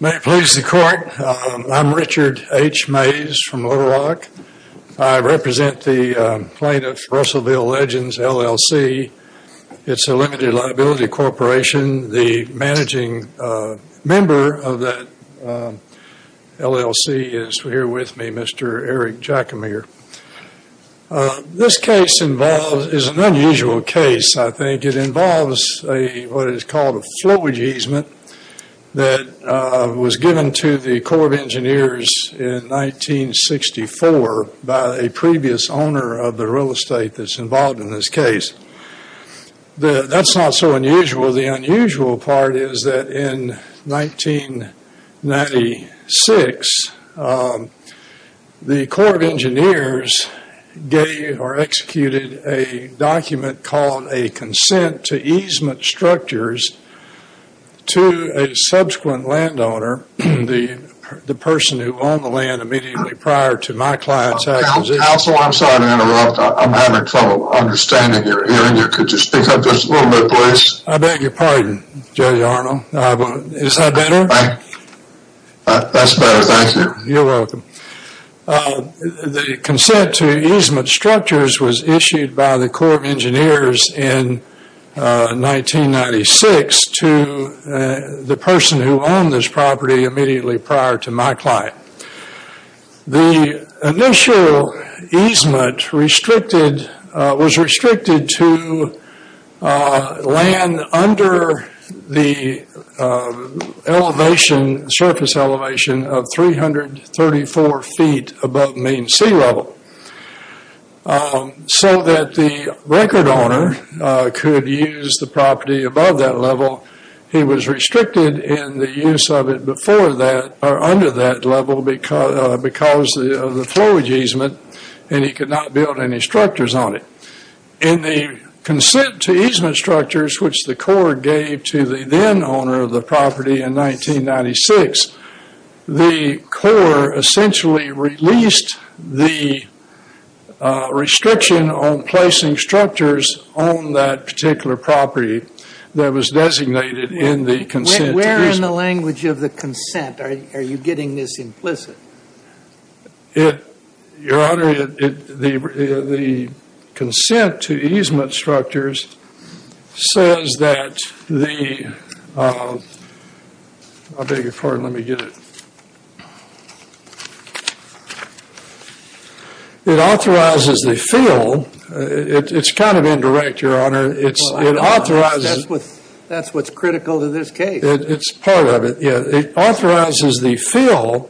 May it please the court. I'm Richard H. Mays from Little Rock. I represent the plaintiff's Russellville Legends LLC. It's a limited liability corporation. The managing member of that LLC is here with me, Mr. Eric Jackamere. This case is an unusual case. I think it involves what is called a flowage easement that was given to the Corps of Engineers in 1964 by a previous owner of the real estate that's involved in this case. That's not so unusual. The unusual part is in 1996 the Corps of Engineers gave or executed a document called a consent to easement structures to a subsequent landowner, the person who owned the land immediately prior to my client's acquisition. Counsel, I'm sorry to interrupt. I'm having trouble understanding your hearing here. Could Is that better? That's better, thank you. You're welcome. The consent to easement structures was issued by the Corps of Engineers in 1996 to the person who owned this property immediately prior to my client. The initial easement was restricted to land under the elevation, surface elevation of 334 feet above mean sea level. So that the record owner could use the property above that level. He was restricted in the use of it before that or under that level because of the flowage easement and he could not build any structures on it. In the consent to easement structures which the Corps gave to the then owner of the property in person who owned this particular property that was designated in the consent. Where in the language of the consent are you getting this implicit? Your Honor, the consent to easement structures says that the, I'll beg your pardon, let me get it. It authorizes the fill. It's kind of indirect, Your Honor. It's it authorizes. That's what's critical to this case. It's part of it, yeah. It authorizes the fill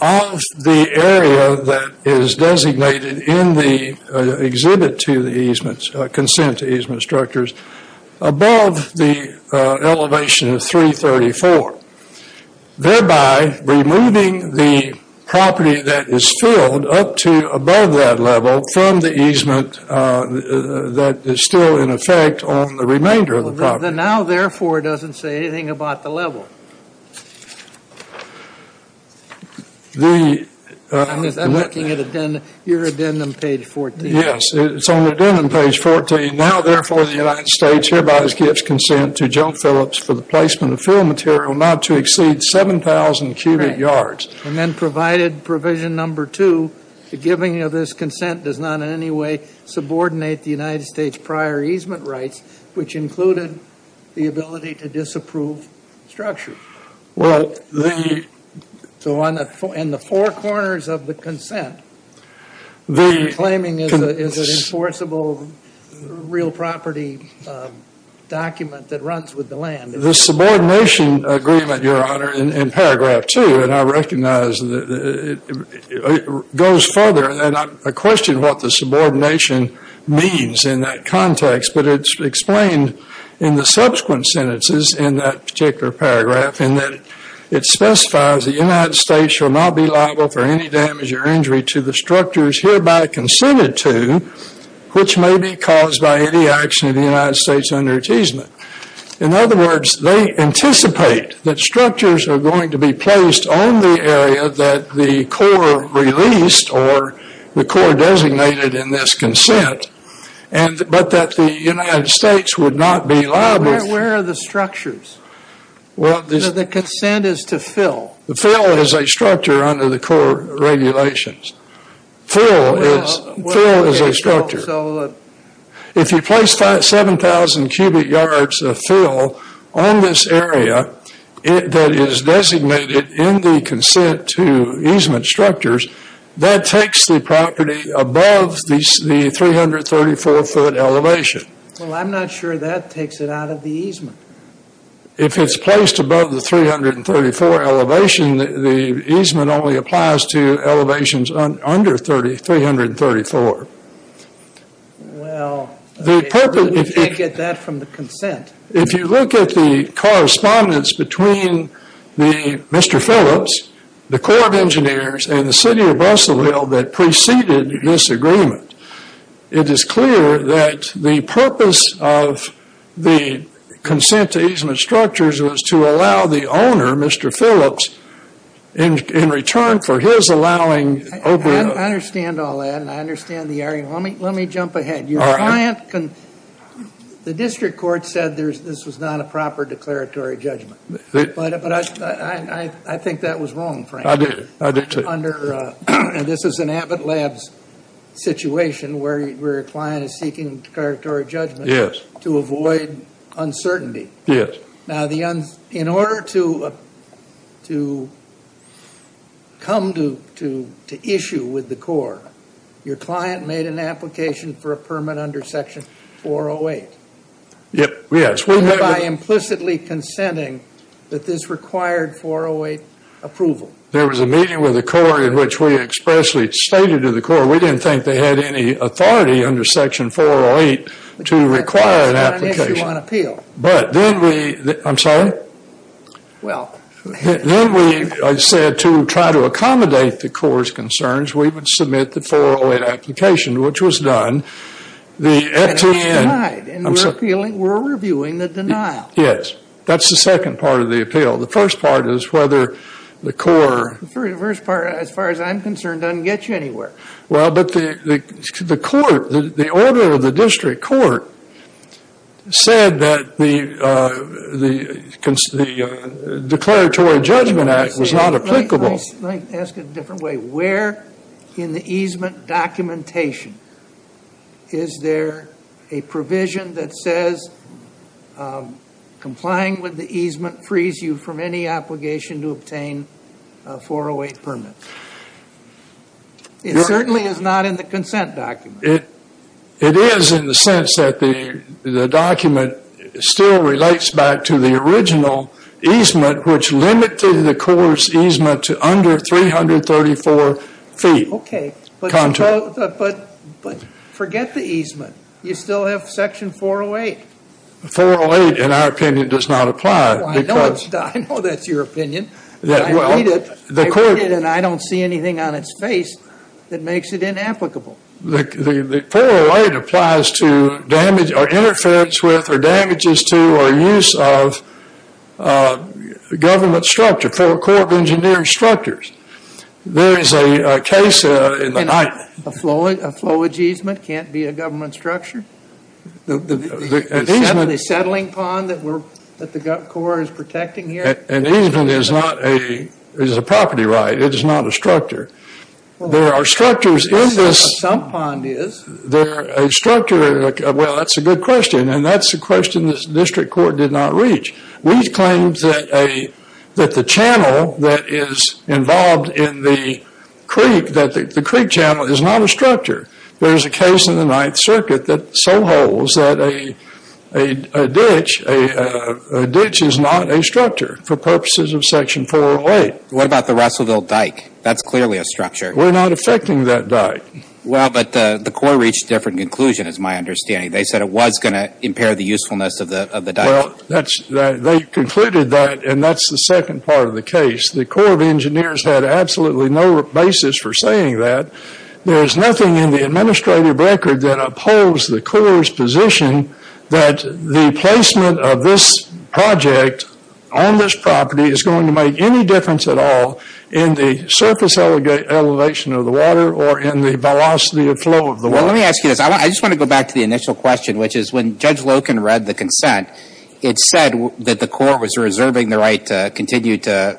of the area that is designated in the exhibit to the easements, consent to easement structures above the elevation of 334. Thereby removing the property that is filled up to above that level from the easement that is still in effect on the remainder of the property. The now therefore doesn't say anything about the level. I'm looking at your addendum page 14. Yes, it's on the addendum page 14. Now therefore the United States hereby gives consent to Joe Phillips for the placement of fill material not to exceed 7,000 cubic yards. And then provided provision number two, the giving of this consent does not in any way subordinate the United States prior easement rights which included the ability to Well, the... So on the four corners of the consent, the claiming is an enforceable real property document that runs with the land. The subordination agreement, Your Honor, in paragraph two, and I recognize that it goes further and I question what the subordination means in that context. But it's explained in the subsequent sentences in that particular paragraph in that it specifies the United States shall not be liable for any damage or injury to the structures hereby consented to which may be caused by any action of the United States under easement. In other words, they anticipate that structures are going to be placed on the area that the Corps released or the Corps designated in this consent and but that the United States would not be liable. Where are the structures? Well, the consent is to fill. The fill is a structure under the Corps regulations. Fill is a structure. If you place 7,000 cubic yards of fill on this area that is designated in the consent to easement structures, that takes the property above the 334-foot elevation. Well, I'm not sure that takes it out of the easement. If it's placed above the 334 elevation, the easement only applies to elevations under 334. Well, we can't get that from the consent. If you look at the correspondence between Mr. Phillips, the Corps of Engineers and the city of Russellville that preceded this agreement, it is clear that the purpose of the consent to easement structures was to allow the owner, Mr. Phillips, in return for his allowing. I understand all that and I understand the area. Let me jump ahead. Your client, the district court said this was not a proper declaratory judgment. I think that was wrong, Frank. I do, I do, too. Under, and this is an Abbott Labs situation where a client is seeking declaratory judgment. Yes. To avoid uncertainty. Yes. Now the, in order to come to issue with the Corps, your client made an application for a permit under section 408. Yep, yes. And by implicitly consenting that this required 408 approval. There was a meeting with the Corps in which we expressly stated to the Corps, we didn't think they had any authority under section 408 to require an application. That's not an issue on appeal. But then we, I'm sorry. Well. Then we said to try to accommodate the Corps' concerns, we would submit the 408 application, which was done. And it was denied, and we're reviewing the denial. Yes. That's the second part of the appeal. The first part is whether the Corps. First part, as far as I'm concerned, doesn't get you anywhere. Well, but the court, the order of the district court said that the declaratory judgment act was not applicable. Let me ask it a different way. Where in the easement documentation is there a provision that says complying with the easement frees you from any obligation to obtain a 408 permit? It certainly is not in the consent document. It is in the sense that the document still relates back to the original easement, which limited the Corps' easement to under 334 feet. Okay, but forget the easement. You still have section 408. 408, in our opinion, does not apply. I know that's your opinion. And I don't see anything on its face that makes it inapplicable. The 408 applies to damage or interference with or damages to or use of government structure for Corps of Engineering structures. There is a case in the height. A flowage easement can't be a government structure? The settling pond that the Corps is protecting here? An easement is a property right. It is not a structure. There are structures in this. A sump pond is. They're a structure. Well, that's a good question. And that's a question the district court did not reach. We've claimed that the channel that is involved in the creek, that the creek channel is not a structure. There is a case in the Ninth Circuit that so holds that a ditch is not a structure for purposes of section 408. What about the Russellville dike? That's clearly a structure. We're not affecting that dike. Well, but the Corps reached a different conclusion is my understanding. They said it was going to impair the usefulness of the dike. Well, they concluded that and that's the second part of the case. The Corps of Engineers had absolutely no basis for saying that. There's nothing in the administrative record that upholds the Corps' position that the placement of this project on this property is going to make any difference at all in the surface elevation of the water or in the velocity of flow of the water. Well, let me ask you this. I just want to go back to the initial question, which is when Judge Loken read the consent, it said that the Corps was reserving the right to continue to,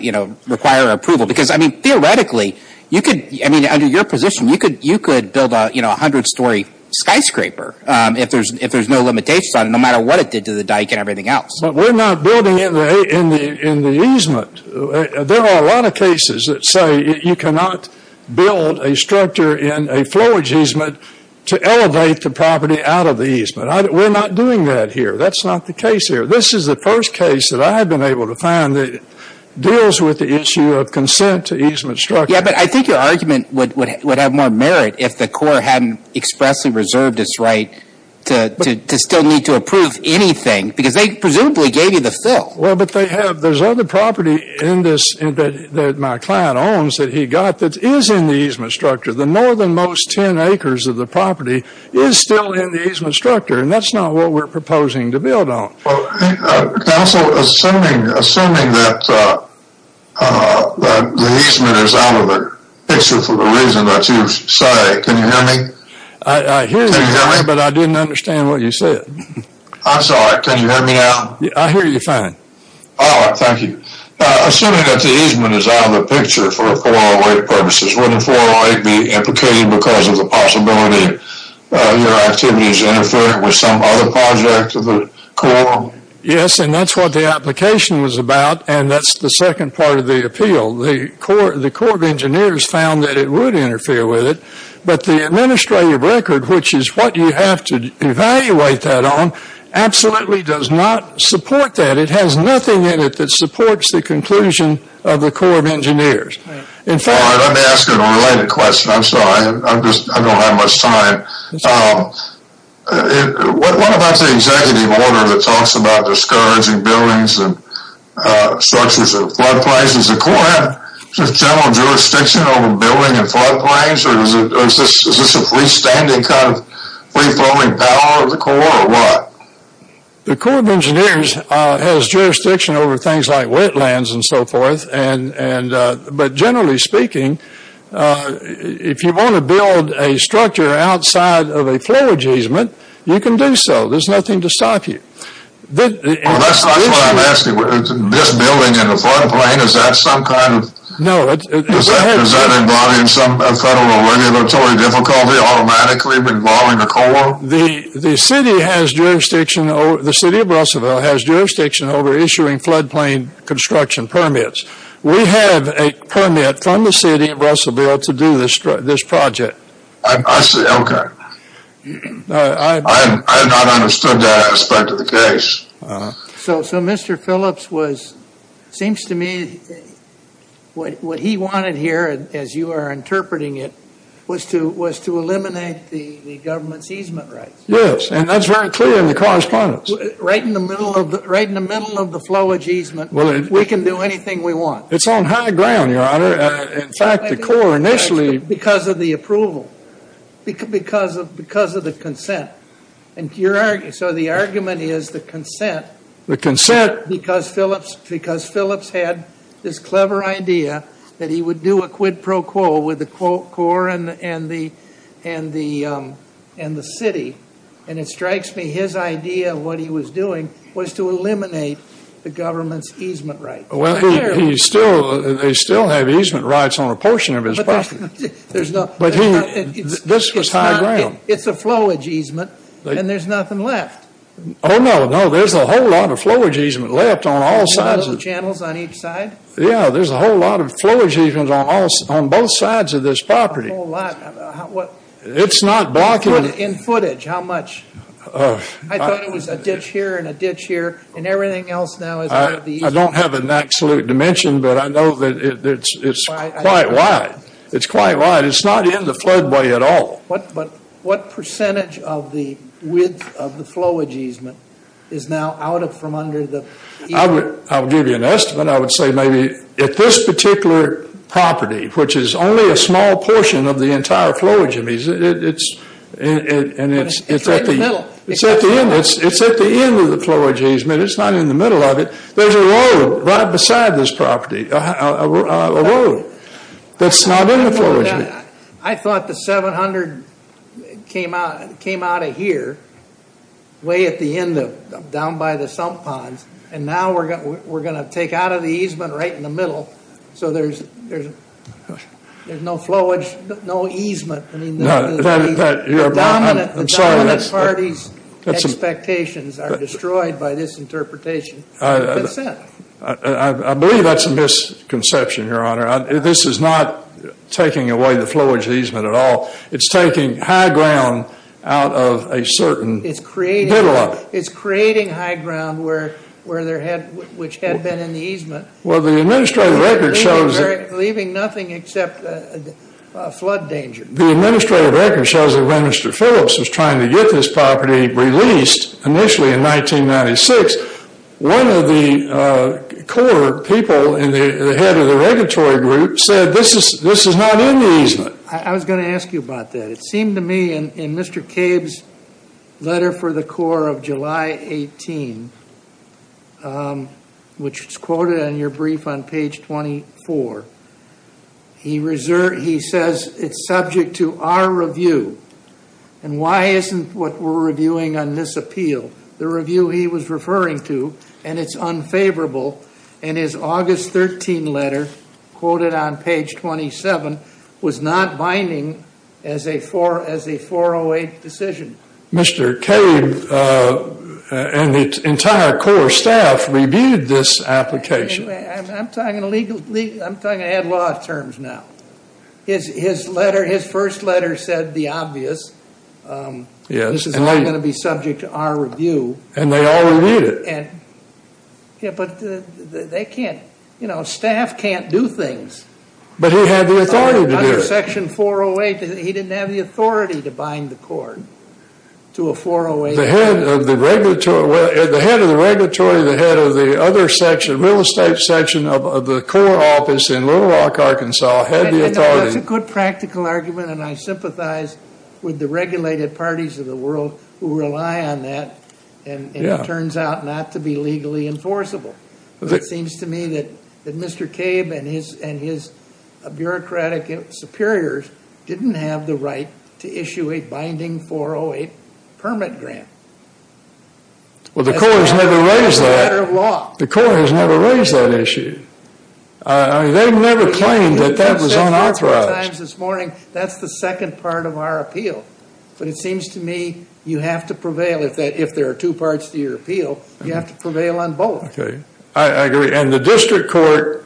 you know, require approval because, I mean, theoretically, you could, I mean, under your position, you could build a, you know, a hundred-story skyscraper if there's no limitations on it, no matter what it did to the dike and everything else. But we're not building in the easement. There are a lot of cases that say you cannot build a structure in a flowage easement to elevate the property out of the easement. We're not doing that here. That's not the case here. This is the first case that I have been able to find that deals with the issue of consent to easement structure. Yeah, but I think your argument would have more merit if the Corps hadn't expressly reserved its right to still need to approve anything because they presumably gave you the fill. Well, but they have. There's other property in this that my client owns that he got that is in the easement structure. The northernmost 10 acres of the property is still in the easement structure, and that's not what we're proposing to build on. Well, counsel, assuming that the easement is out of the picture for the reason that you say, can you hear me? I hear you, but I didn't understand what you said. I'm sorry. Can you hear me now? I hear you fine. All right, thank you. Assuming that the easement is out of the picture for 408 purposes, wouldn't 408 be implicated because of the possibility your activity is interfering with some other project of the Corps? Yes, and that's what the application was about, and that's the second part of the appeal. The Corps of Engineers found that it would interfere with it, but the administrative record, which is what you have to evaluate that on, absolutely does not support that. It has nothing in it that supports the conclusion of the Corps of Engineers. All right, let me ask you a related question. I'm sorry, I don't have much time. What about the executive order that talks about discouraging buildings and structures and floodplains? Does the Corps have general jurisdiction over building and floodplains, or is this a freestanding kind of free-flowing power of the Corps, or what? The Corps of Engineers has jurisdiction over things like wetlands and so forth, but generally speaking, if you want to build a structure outside of a floor easement, you can do so. There's nothing to stop you. Well, that's not what I'm asking. This building in the floodplain, is that some kind of... No, it's ahead. Is that involving some federal regulatory difficulty, automatically involving the Corps? The city of Russellville has jurisdiction over issuing floodplain construction permits. We have a permit from the city of Russellville to do this project. I see, okay. I have not understood that aspect of the case. So Mr. Phillips was... Seems to me what he wanted here, as you are interpreting it, was to eliminate the government's easement rights. Yes, and that's very clear in the correspondence. Right in the middle of the flowage easement, we can do anything we want. It's on high ground, your honor. In fact, the Corps initially... Because of the approval, because of the consent. So the argument is the consent... The consent... Because Phillips had this clever idea that he would do a quid pro quo with the Corps and the city. And it strikes me his idea, what he was doing, was to eliminate the government's easement rights. Well, he still... They still have easement rights on a portion of his property. This was high ground. It's a flowage easement, and there's nothing left. Oh no, no. There's a whole lot of flowage easement left on all sides. Channels on each side? Yeah, there's a whole lot of flowage easements on both sides of this property. A whole lot. It's not blocking... In footage, how much? I thought it was a ditch here and a ditch here, and everything else now is part of the easement. I don't have an absolute dimension, but I know that it's quite wide. It's quite wide. It's not in the floodway at all. But what percentage of the width of the flowage easement is now out from under the... I'll give you an estimate. I would say maybe at this particular property, which is only a small portion of the entire flowage easement, it's at the end of the flowage easement. It's not in the middle of it. There's a road right beside this property, a road that's not in the flowage easement. I thought the 700 came out of here, way at the end of down by the sump ponds, and now we're going to take out of the easement right in the middle, so there's no flowage, no easement. The dominant party's expectations are destroyed by this interpretation. This is not taking away the flowage easement at all. It's taking high ground out of a certain middle of it. It's creating high ground which had been in the easement, leaving nothing except a flood danger. The administrative record shows that when Mr. Phillips was trying to get this property released initially in 1996, one of the core people in the head of the regulatory group said this is not in the easement. I was going to ask you about that. It seemed to me in Mr. Cabe's letter for the Corps of July 18, which is quoted on your brief on page 24, he says it's subject to our review. Why isn't what we're reviewing on this appeal? The review he was referring to, and it's unfavorable, and his August 13 letter quoted on page 27 was not binding as a 408 decision. Mr. Cabe and the entire Corps staff reviewed this application. Anyway, I'm talking legal, I'm talking ad-law terms now. His letter, his first letter said the obvious. Yes. This is not going to be subject to our review. And they all reviewed it. They can't, you know, staff can't do things. But he had the authority to do it. Under section 408, he didn't have the authority to bind the court to a 408 decision. The head of the regulatory, the head of the other section, real estate section of the Corps office in Little Rock, Arkansas, had the authority. It's a good practical argument, and I sympathize with the regulated parties of the world who rely on that, and it turns out not to be legally enforceable. But it seems to me that Mr. Cabe and his bureaucratic superiors didn't have the right to issue a binding 408 permit grant. Well, the Corps has never raised that. The Corps has never raised that issue. I mean, they've never claimed that that was unauthorized. This morning, that's the second part of our appeal. But it seems to me you have to prevail if there are two parts to your appeal. You have to prevail on both. Okay. I agree. And the district court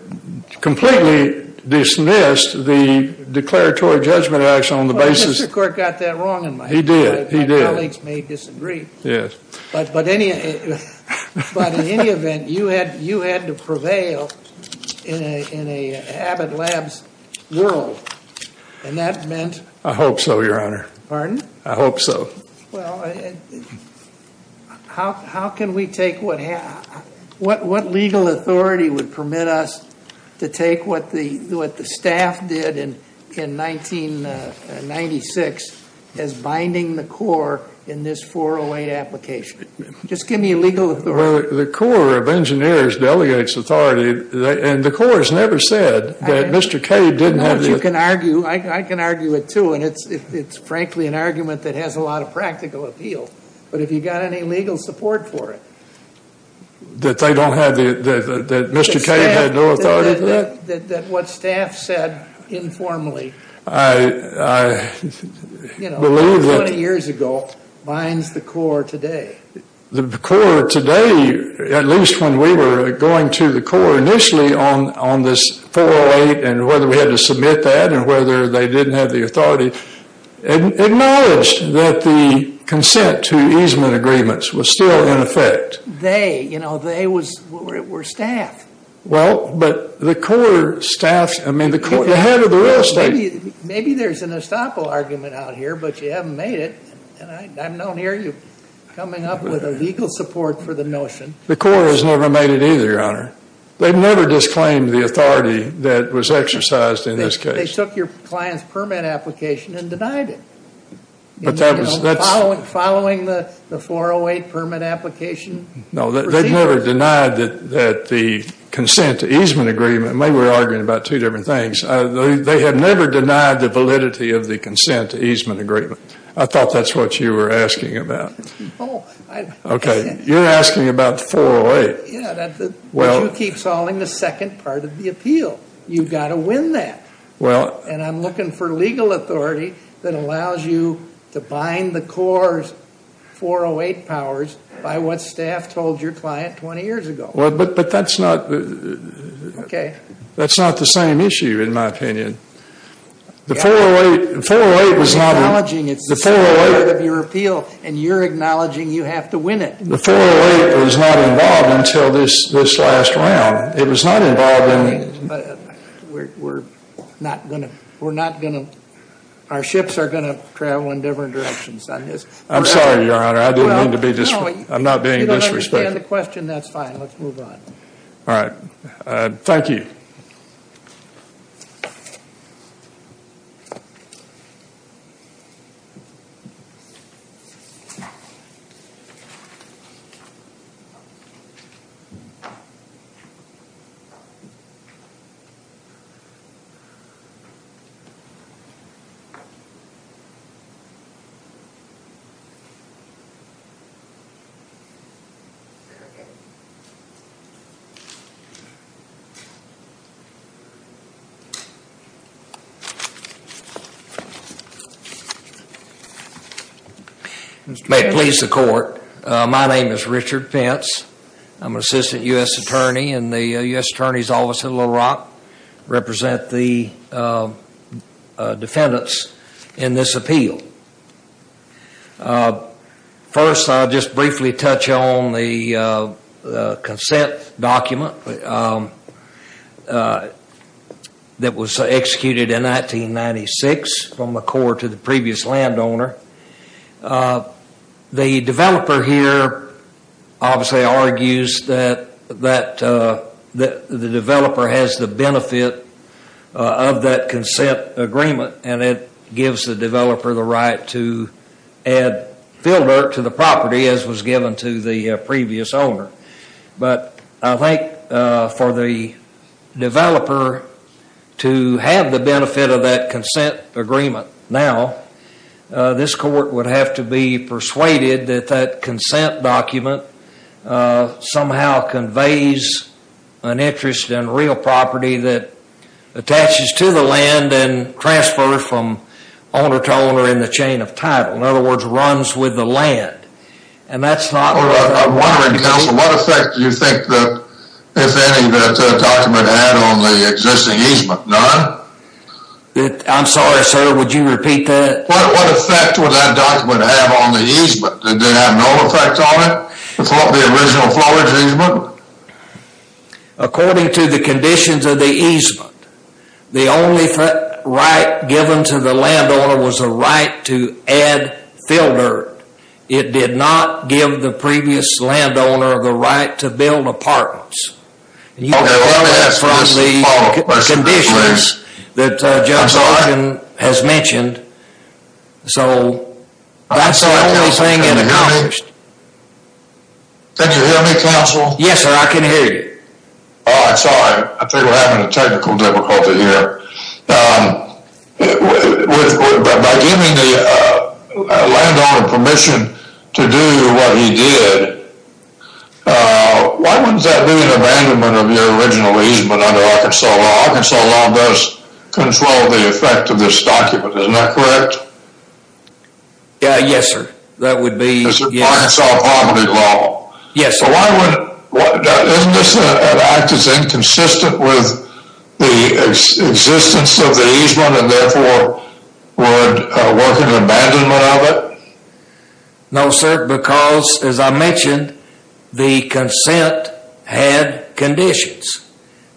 completely dismissed the declaratory judgment action on the basis. The district court got that wrong in my head. He did. He did. My colleagues may disagree. Yes. But in any event, you had to prevail in an Abbott Labs world. And that meant... I hope so, Your Honor. Pardon? I hope so. Well, what legal authority would permit us to take what the staff did in 1996 as binding the Corps in this 408 application? Just give me a legal authority. The Corps of Engineers delegates authority. And the Corps has never said that Mr. Cabe didn't have the... I know what you can argue. I can argue it, too. And it's frankly an argument that has a lot of practical appeal. But have you got any legal support for it? That they don't have the... That Mr. Cabe had no authority for that? That what staff said informally... 20 years ago binds the Corps today. The Corps today, at least when we were going to the Corps initially on this 408 and whether we had to submit that and whether they didn't have the authority, acknowledged that the consent to easement agreements was still in effect. They, you know, they were staff. Well, but the Corps staff... I mean, the head of the real estate... Maybe there's an estoppel argument out here, but you haven't made it. And I'm not hearing you coming up with a legal support for the notion. The Corps has never made it either, Your Honor. They've never disclaimed the authority that was exercised in this case. They took your client's permit application and denied it. Following the 408 permit application? No, they've never denied that the consent to easement agreement... Maybe we're arguing about two different things. They have never denied the validity of the consent to easement agreement. I thought that's what you were asking about. Okay, you're asking about the 408. Yeah, that's what you keep calling the second part of the appeal. You've got to win that. Well... And I'm looking for legal authority that allows you to bind the Corps' 408 powers by what staff told your client 20 years ago. Well, but that's not... Okay. That's not the same issue, in my opinion. The 408 was not... You're acknowledging it's the second part of your appeal, and you're acknowledging you have to win it. The 408 was not involved until this last round. It was not involved in... We're not going to... Our ships are going to travel in different directions on this. I'm sorry, Your Honor. I didn't mean to be disrespectful. I'm not being disrespectful. You don't understand the question. That's fine. Let's move on. All right. Thank you. Mr. Chairman. May it please the court. My name is Richard Pence. I'm an assistant U.S. attorney in the U.S. Attorney's Office in Little Rock. Represent the defendants in this appeal. First, I'll just briefly touch on the consent document. It was executed in 1996 from the court to the previous landowner. The developer here obviously argues that the developer has the benefit of that consent agreement, and it gives the developer the right to add field dirt to the property as was given to the previous owner. But I think for the developer to have the benefit of that consent agreement now, this court would have to be persuaded that that consent document somehow conveys an interest in real property that attaches to the land and transfers from owner to owner in the chain of title. In other words, runs with the land. And that's not what I'm wondering, counsel. What effect do you think that, if any, that document had on the existing easement? None? I'm sorry, sir. Would you repeat that? What effect would that document have on the easement? Did they have no effect on it? The original floor easement? According to the conditions of the easement, the only right given to the landowner was a right to add field dirt. It did not give the previous landowner the right to build apartments. And you can tell us from the conditions that Judge Larkin has mentioned. So that's the only thing. Can you hear me, counsel? Yes, sir. I can hear you. Oh, I'm sorry. I think we're having a technical difficulty here. But by giving the landowner permission to do what he did, why wouldn't that be an abandonment of your original easement under Arkansas law? Arkansas law does control the effect of this document. Isn't that correct? Yeah, yes, sir. That would be. Arkansas poverty law. Yes, sir. Isn't this an act that's inconsistent with the existence of the easement and therefore would work in abandonment of it? No, sir, because as I mentioned, the consent had conditions.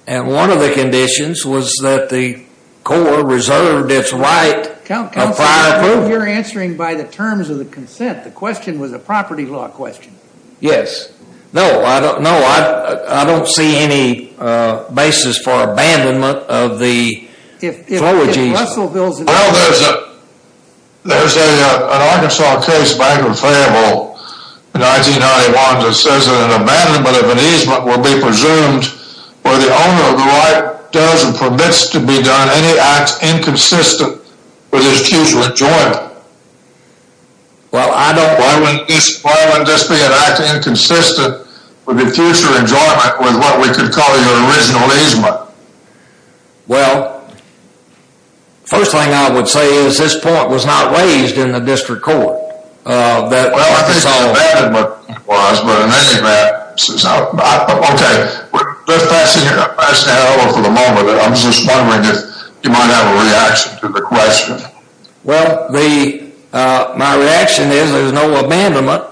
And one of the conditions was that the Corps reserved its right of fireproof. Counsel, you're answering by the terms of the consent. The question was a property law question. Yes. No, I don't know. I don't see any basis for abandonment of the. If Russellville's. There's an Arkansas case back in Fayetteville in 1991 that says that an abandonment of an easement will be presumed where the owner of the right does and permits to be done any act inconsistent with his future enjoyment. Well, I don't. Why wouldn't this be an act inconsistent with the future enjoyment with what we could call your original easement? Well. First thing I would say is this point was not raised in the district court that. Well, I think the abandonment was, but in any event. OK, we're just passing it over for the moment. I'm just wondering if you might have a reaction to the question. Well, the my reaction is there's no abandonment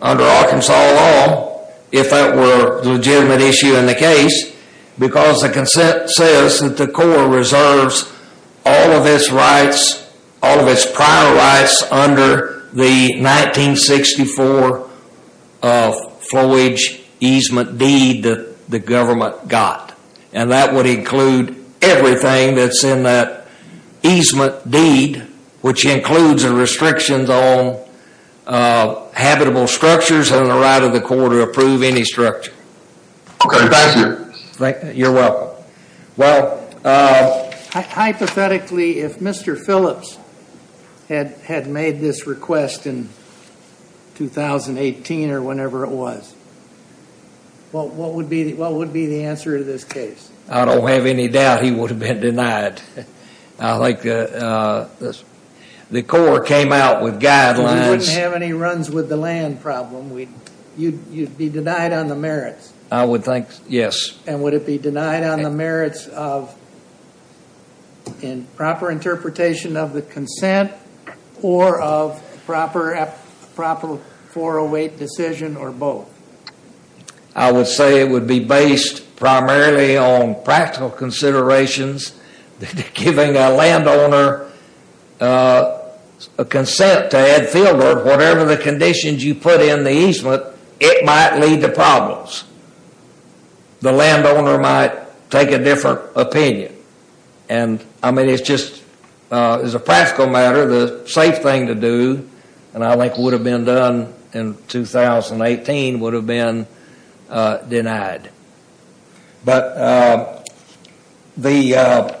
under Arkansas law if that were a legitimate issue in the case, because the consent says that the Corps reserves all of its rights, all of its prior rights under the 1964 of foliage easement deed the government got, and that would include everything that's in that easement deed, which includes the restrictions on habitable structures and the right of the court to approve any structure. OK, thank you. You're welcome. Well, hypothetically, if Mr. Phillips had had made this request in. 2018 or whenever it was. Well, what would be what would be the answer to this case? I don't have any doubt he would have been denied. I like this. The Corps came out with guidelines. We wouldn't have any runs with the land problem. We you'd be denied on the merits. I would think yes. And would it be denied on the merits of. In proper interpretation of the consent or of proper, proper 408 decision or both? I would say it would be based primarily on practical considerations, giving a landowner a consent to add field or whatever the conditions you put in the easement, it might lead to problems. The landowner might take a different opinion. And I mean, it's just is a practical matter, the safe thing to do, and I think would have been done in 2018 would have been denied. But the.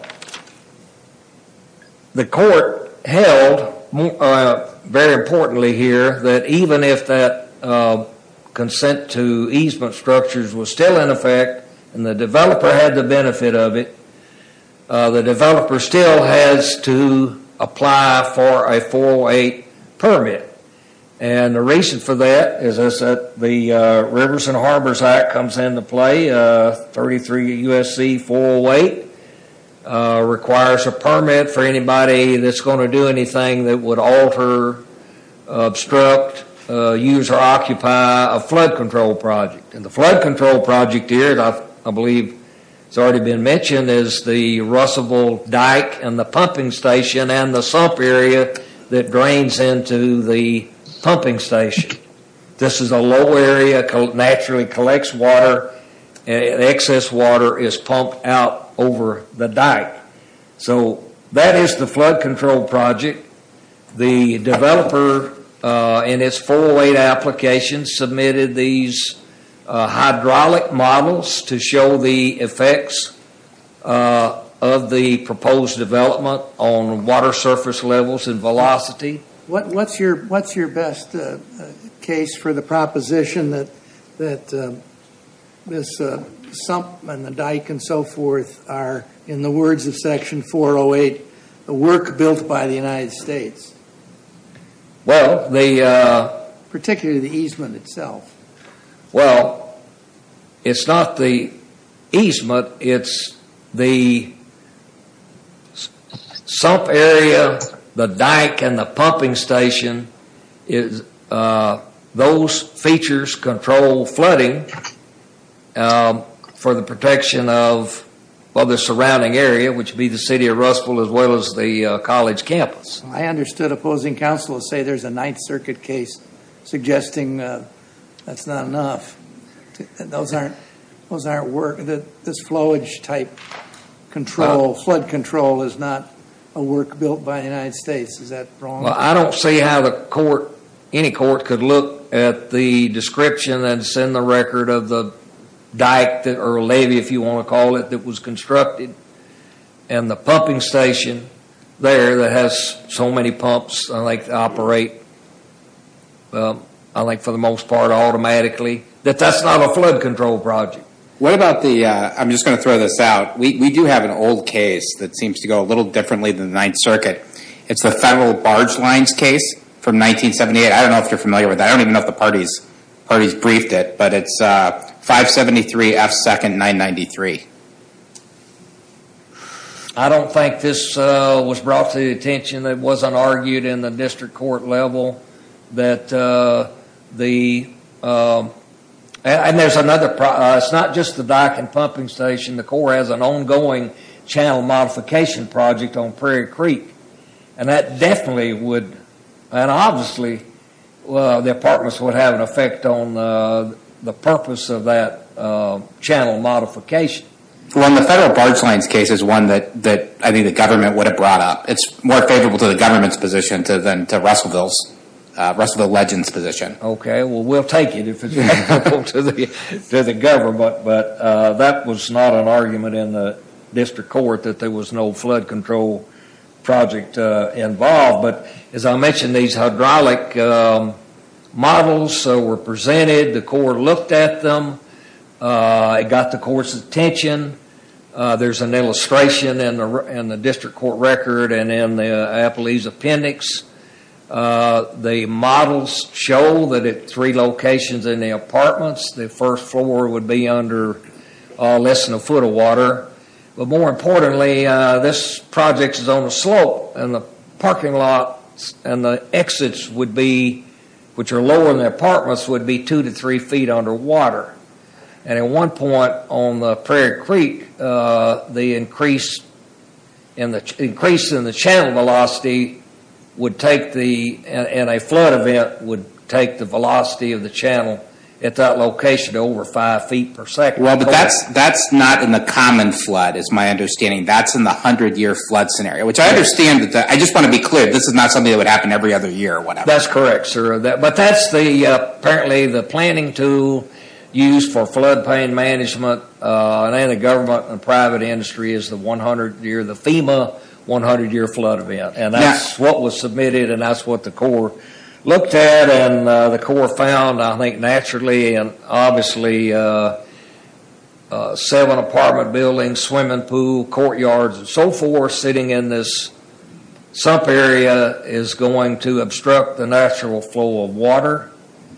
The court held very importantly here that even if that consent to easement structures was still in effect and the developer had the benefit of it, the developer still has to apply for a 408 permit. And the reason for that is that the Rivers and Harbors Act comes into play. 33 U.S.C. 408 requires a permit for anybody that's going to do anything that would alter, obstruct, use or occupy a flood control project. And the flood control project here, I believe it's already been mentioned, is the Russellville dyke and the pumping station and the sump area that drains into the pumping station. This is a low area, naturally collects water and excess water is pumped out over the dyke. So that is the flood control project. The developer in its 408 application submitted these hydraulic models to show the effects of the proposed development on water surface levels and velocity. What's your best case for the proposition that this sump and the dyke and so forth are, in the words of Section 408, the work built by the United States? Well, the. Particularly the easement itself. Well, it's not the easement. It's the sump area, the dyke and the pumping station. Those features control flooding for the protection of the surrounding area, which would be the city of Russellville as well as the college campus. I understood opposing counselors say there's a Ninth Circuit case suggesting that's not enough. Those aren't work, this flowage type control, flood control is not a work built by the United States. Is that wrong? I don't see how the court, any court, could look at the description and send the record of the dyke or levee, if you want to call it, that was constructed. And the pumping station there that has so many pumps, I like to operate, I like for the most part, automatically, that that's not a flood control project. What about the, I'm just going to throw this out, we do have an old case that seems to go a little differently than the Ninth Circuit. It's the Federal Barge Lines case from 1978. I don't know if you're familiar with that. I don't even know if the party's briefed it, but it's 573 F. 2nd, 993. I don't think this was brought to the attention, it wasn't argued in the district court level that the, and there's another, it's not just the dyke and pumping station, the Corps has an ongoing channel modification project on Prairie Creek. And that definitely would, and obviously, their partners would have an effect on the purpose of that channel modification. Well, in the Federal Barge Lines case is one that I think the government would have brought up. It's more favorable to the government's position than to Russellville's, Russellville Legend's position. Okay, well, we'll take it if it's favorable to the government. But that was not an argument in the district court, that there was no flood control project involved. But as I mentioned, these hydraulic models were presented, the Corps looked at them, it got the Corps' attention. There's an illustration in the district court record and in the Appaloose appendix. The models show that at three locations in the apartments, the first floor would be under less than a foot of water. But more importantly, this project is on a slope, and the parking lot and the exits would be, which are lower in the apartments, would be two to three feet underwater. And at one point on the Prairie Creek, the increase in the channel velocity would take the, in a flood event, would take the velocity of the channel at that location to over five feet per second. Well, but that's not in the common flood, is my understanding. That's in the hundred-year flood scenario. Which I understand, I just want to be clear, this is not something that would happen every other year or whatever. That's correct, sir. But that's the, apparently, the planning tool used for floodplain management and anti-government and private industry is the 100-year, the FEMA 100-year flood event. And that's what was submitted and that's what the Corps looked at. And the Corps found, I think, naturally and obviously, seven apartment buildings, swimming pool, courtyards, and so forth, sitting in this sump area is going to obstruct the natural flow of water.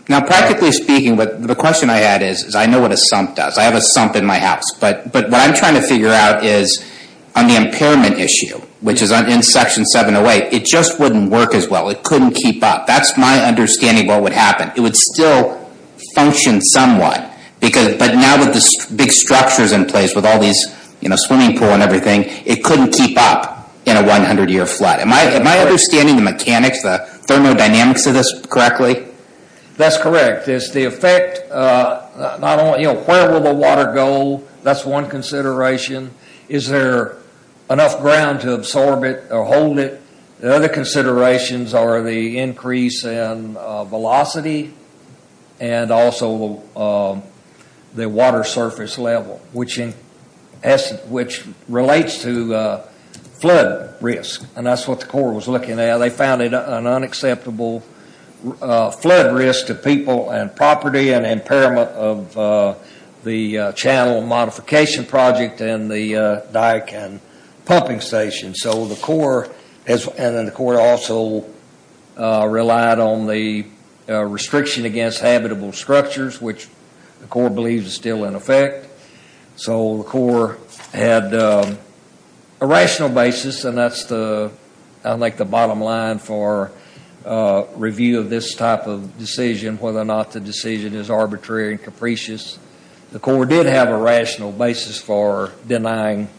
Now, practically speaking, the question I had is, I know what a sump does. I have a sump in my house. But what I'm trying to figure out is, on the impairment issue, which is in Section 708, it just wouldn't work as well. It couldn't keep up. That's my understanding of what would happen. It would still function somewhat. Because, but now with the big structures in place, with all these, you know, swimming pool and everything, it couldn't keep up in a 100-year flood. Am I understanding the mechanics, the thermodynamics of this correctly? That's correct. It's the effect, not only, you know, where will the water go? That's one consideration. Is there enough ground to absorb it or hold it? The other considerations are the increase in velocity and also the water surface level, which relates to flood risk. And that's what the Corps was looking at. They found an unacceptable flood risk to people and property and impairment of the channel modification project and the dike and pumping station. So the Corps has, and then the Corps also relied on the restriction against habitable structures, which the Corps believes is still in effect. So the Corps had a rational basis. And that's the, I think the bottom line for review of this type of decision, whether or not the decision is arbitrary and capricious. The Corps did have a rational basis for denying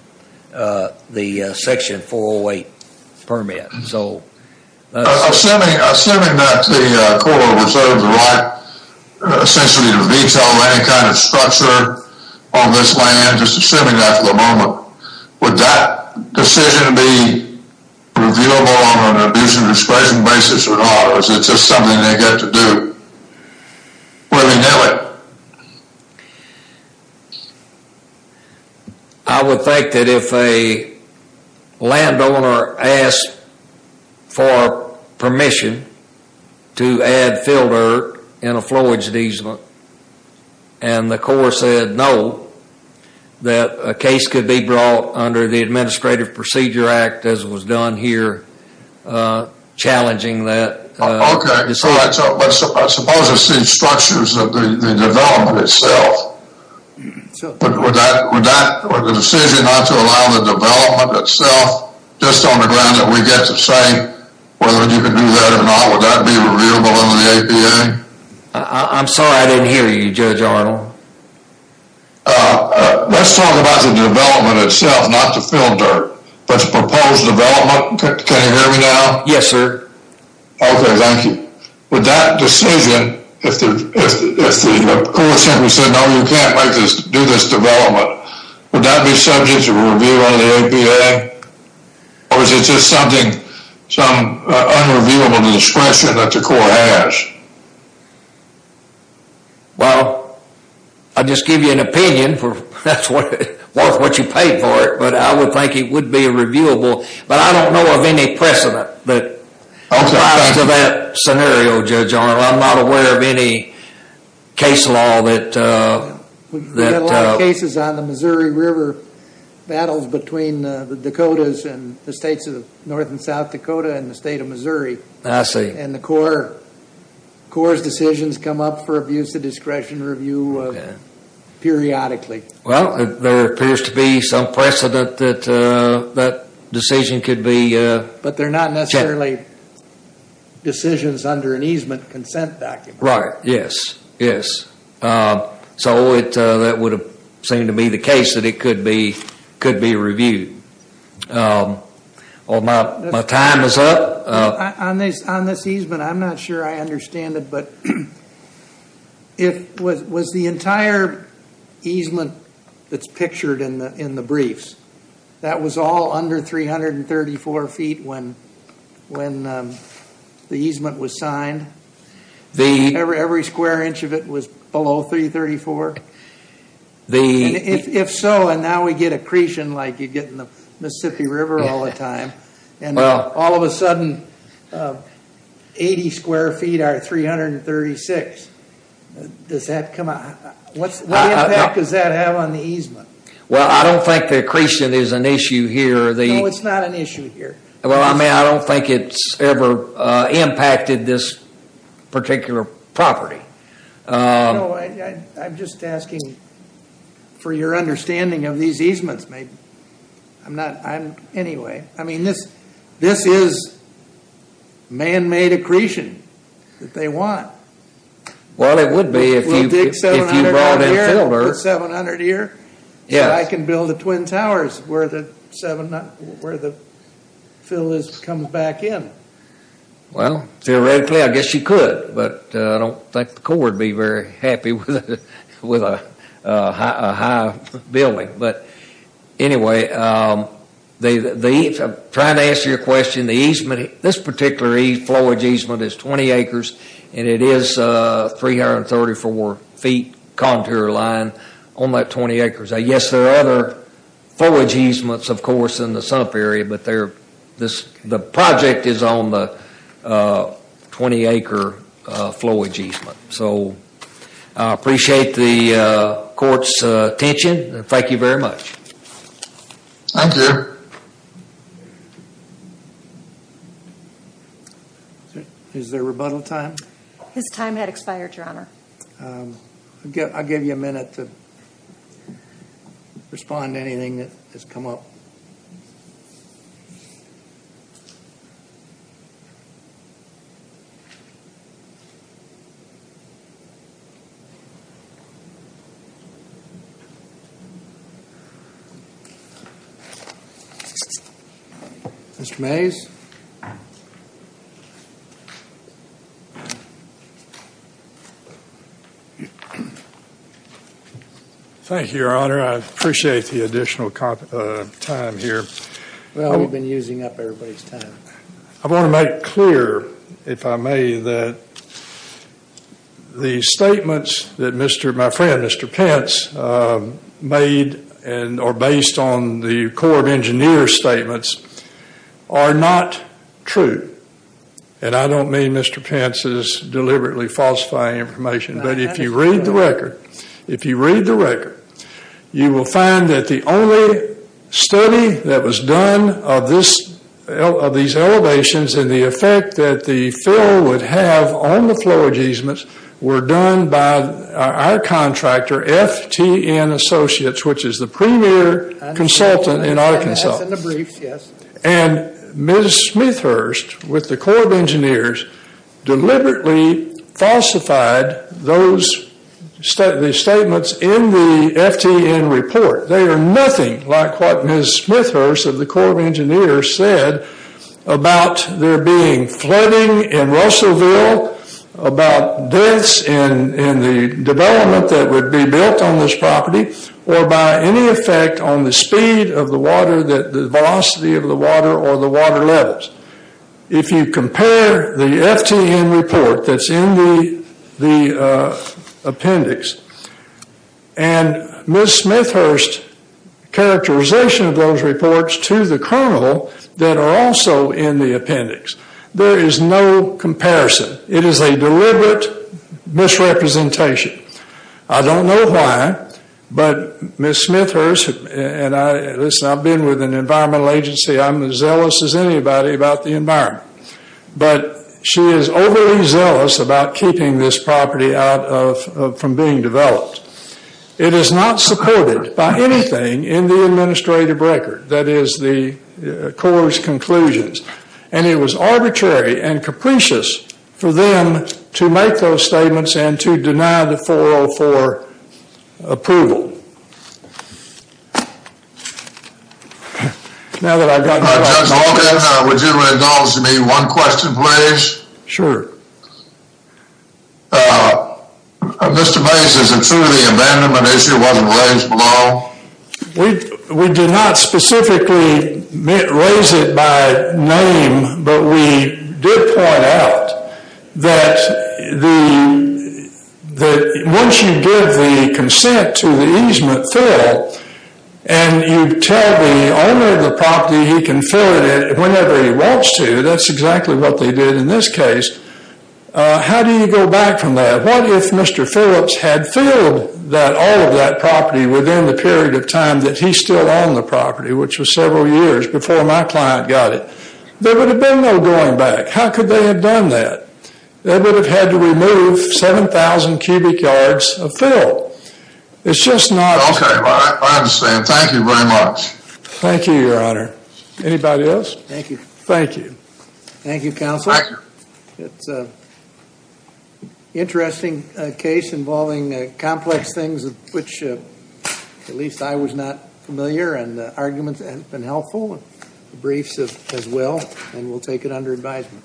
the section 408 permit. So assuming that the Corps reserves the right essentially to just assuming that for the moment, would that decision be reviewable on an abuse and discretion basis or not? Or is it just something they get to do where we know it? I would think that if a landowner asked for permission to add filter in a flowage diesel and the Corps said no, that a case could be brought under the Administrative Procedure Act as was done here, challenging that. Okay, so I suppose I've seen structures of the development itself. Would that, would the decision not to allow the development itself just on the ground that we get to say whether you can do that or not, would that be reviewable under the APA? I'm sorry, I didn't hear you, Judge Arnold. Let's talk about the development itself, not the filter, but the proposed development. Can you hear me now? Yes, sir. Okay, thank you. Would that decision, if the Corps simply said, no, you can't do this development, would that be subject to review under the APA? Or is it just something, some unreviewable discretion that the Corps has? Well, I'll just give you an opinion, that's worth what you paid for it, but I would think it would be reviewable, but I don't know of any precedent that applies to that scenario, Judge Arnold. I'm not aware of any case law that, that... We've had a lot of cases on the Missouri River battles between the Dakotas and the states of North and South Dakota and the state of Missouri. I see. And the Corps' decisions come up for abuse of discretion review periodically. Well, there appears to be some precedent that that decision could be... But they're not necessarily decisions under an easement consent document. Right, yes, yes. So that would seem to be the case that it could be reviewed. Well, my time is up. On this easement, I'm not sure I understand it, but was the entire easement that's pictured in the briefs, that was all under 334 feet when the easement was signed? Every square inch of it was below 334? If so, and now we get accretion like you get in the Mississippi River all the time, and all of a sudden 80 square feet are 336. Does that come out? What impact does that have on the easement? Well, I don't think the accretion is an issue here. No, it's not an issue here. Well, I mean, I don't think it's ever impacted this particular property. I'm just asking for your understanding of these easements, maybe. I'm not, I'm... This is man-made accretion that they want. Well, it would be if you brought in filler. With 700 here, so I can build the twin towers where the fill comes back in. Well, theoretically, I guess you could, but I don't think the Corps would be very happy with a high building. Anyway, I'm trying to answer your question. This particular flowage easement is 20 acres, and it is a 334-feet contour line on that 20 acres. Yes, there are other flowage easements, of course, in the sump area, but the project is on the 20-acre flowage easement. So, I appreciate the court's attention. Thank you very much. Thank you. Is there rebuttal time? His time had expired, Your Honor. I'll give you a minute to respond to anything that has come up. Mr. Mays? Thank you, Your Honor. I appreciate the additional time here. Well, you've been using up everybody's time. I want to make clear, if I may, that the statements that my friend, Mr. Pence, made and are based on the Corps of Engineers' statements are not true. And I don't mean Mr. Pence's deliberately falsifying information, but if you read the record, if you read the record, you will find that the only study that was done of these elevations and the effect that the fill would have on the flowage easements were done by our contractor, FTN Associates, which is the premier consultant in our consultants. And Ms. Smithhurst, with the Corps of Engineers, deliberately falsified those statements in the FTN report. They are nothing like what Ms. Smithhurst of the Corps of Engineers said about there being flooding in Russellville, about deaths in the development that would be built on this property, or by any effect on the speed of the water, the velocity of the water, or the water levels. If you compare the FTN report that's in the appendix, and Ms. Smithhurst's characterization of those reports to the colonel that are also in the appendix, there is no comparison. It is a deliberate misrepresentation. I don't know why, but Ms. Smithhurst, and listen, I've been with an environmental agency, I'm as zealous as anybody about the environment, but she is overly zealous about keeping this property out of, from being developed. It is not supported by anything in the administrative record that is the Corps' conclusions, and it was arbitrary and capricious for them to make those statements and to deny the 404 approval. Now that I've got... All right, Judge Logan, would you indulge me one question, please? Sure. Mr. Bates, is it true the abandonment issue wasn't raised below? We did not specifically raise it by name, but we did point out that once you give the consent to the easement fill, and you tell the owner of the property he can fill it whenever he wants to, that's exactly what they did in this case. How do you go back from that? What if Mr. Phillips had filled all of that property within the period of time that he still owned the property, which was several years before my client got it? There would have been no going back. How could they have done that? They would have had to remove 7,000 cubic yards of fill. It's just not... Okay, I understand. Thank you very much. Thank you, Your Honor. Anybody else? Thank you. Thank you. Thank you, Counsel. It's an interesting case involving complex things, which at least I was not familiar, and the arguments have been helpful, and the briefs as well, and we'll take it under advisement.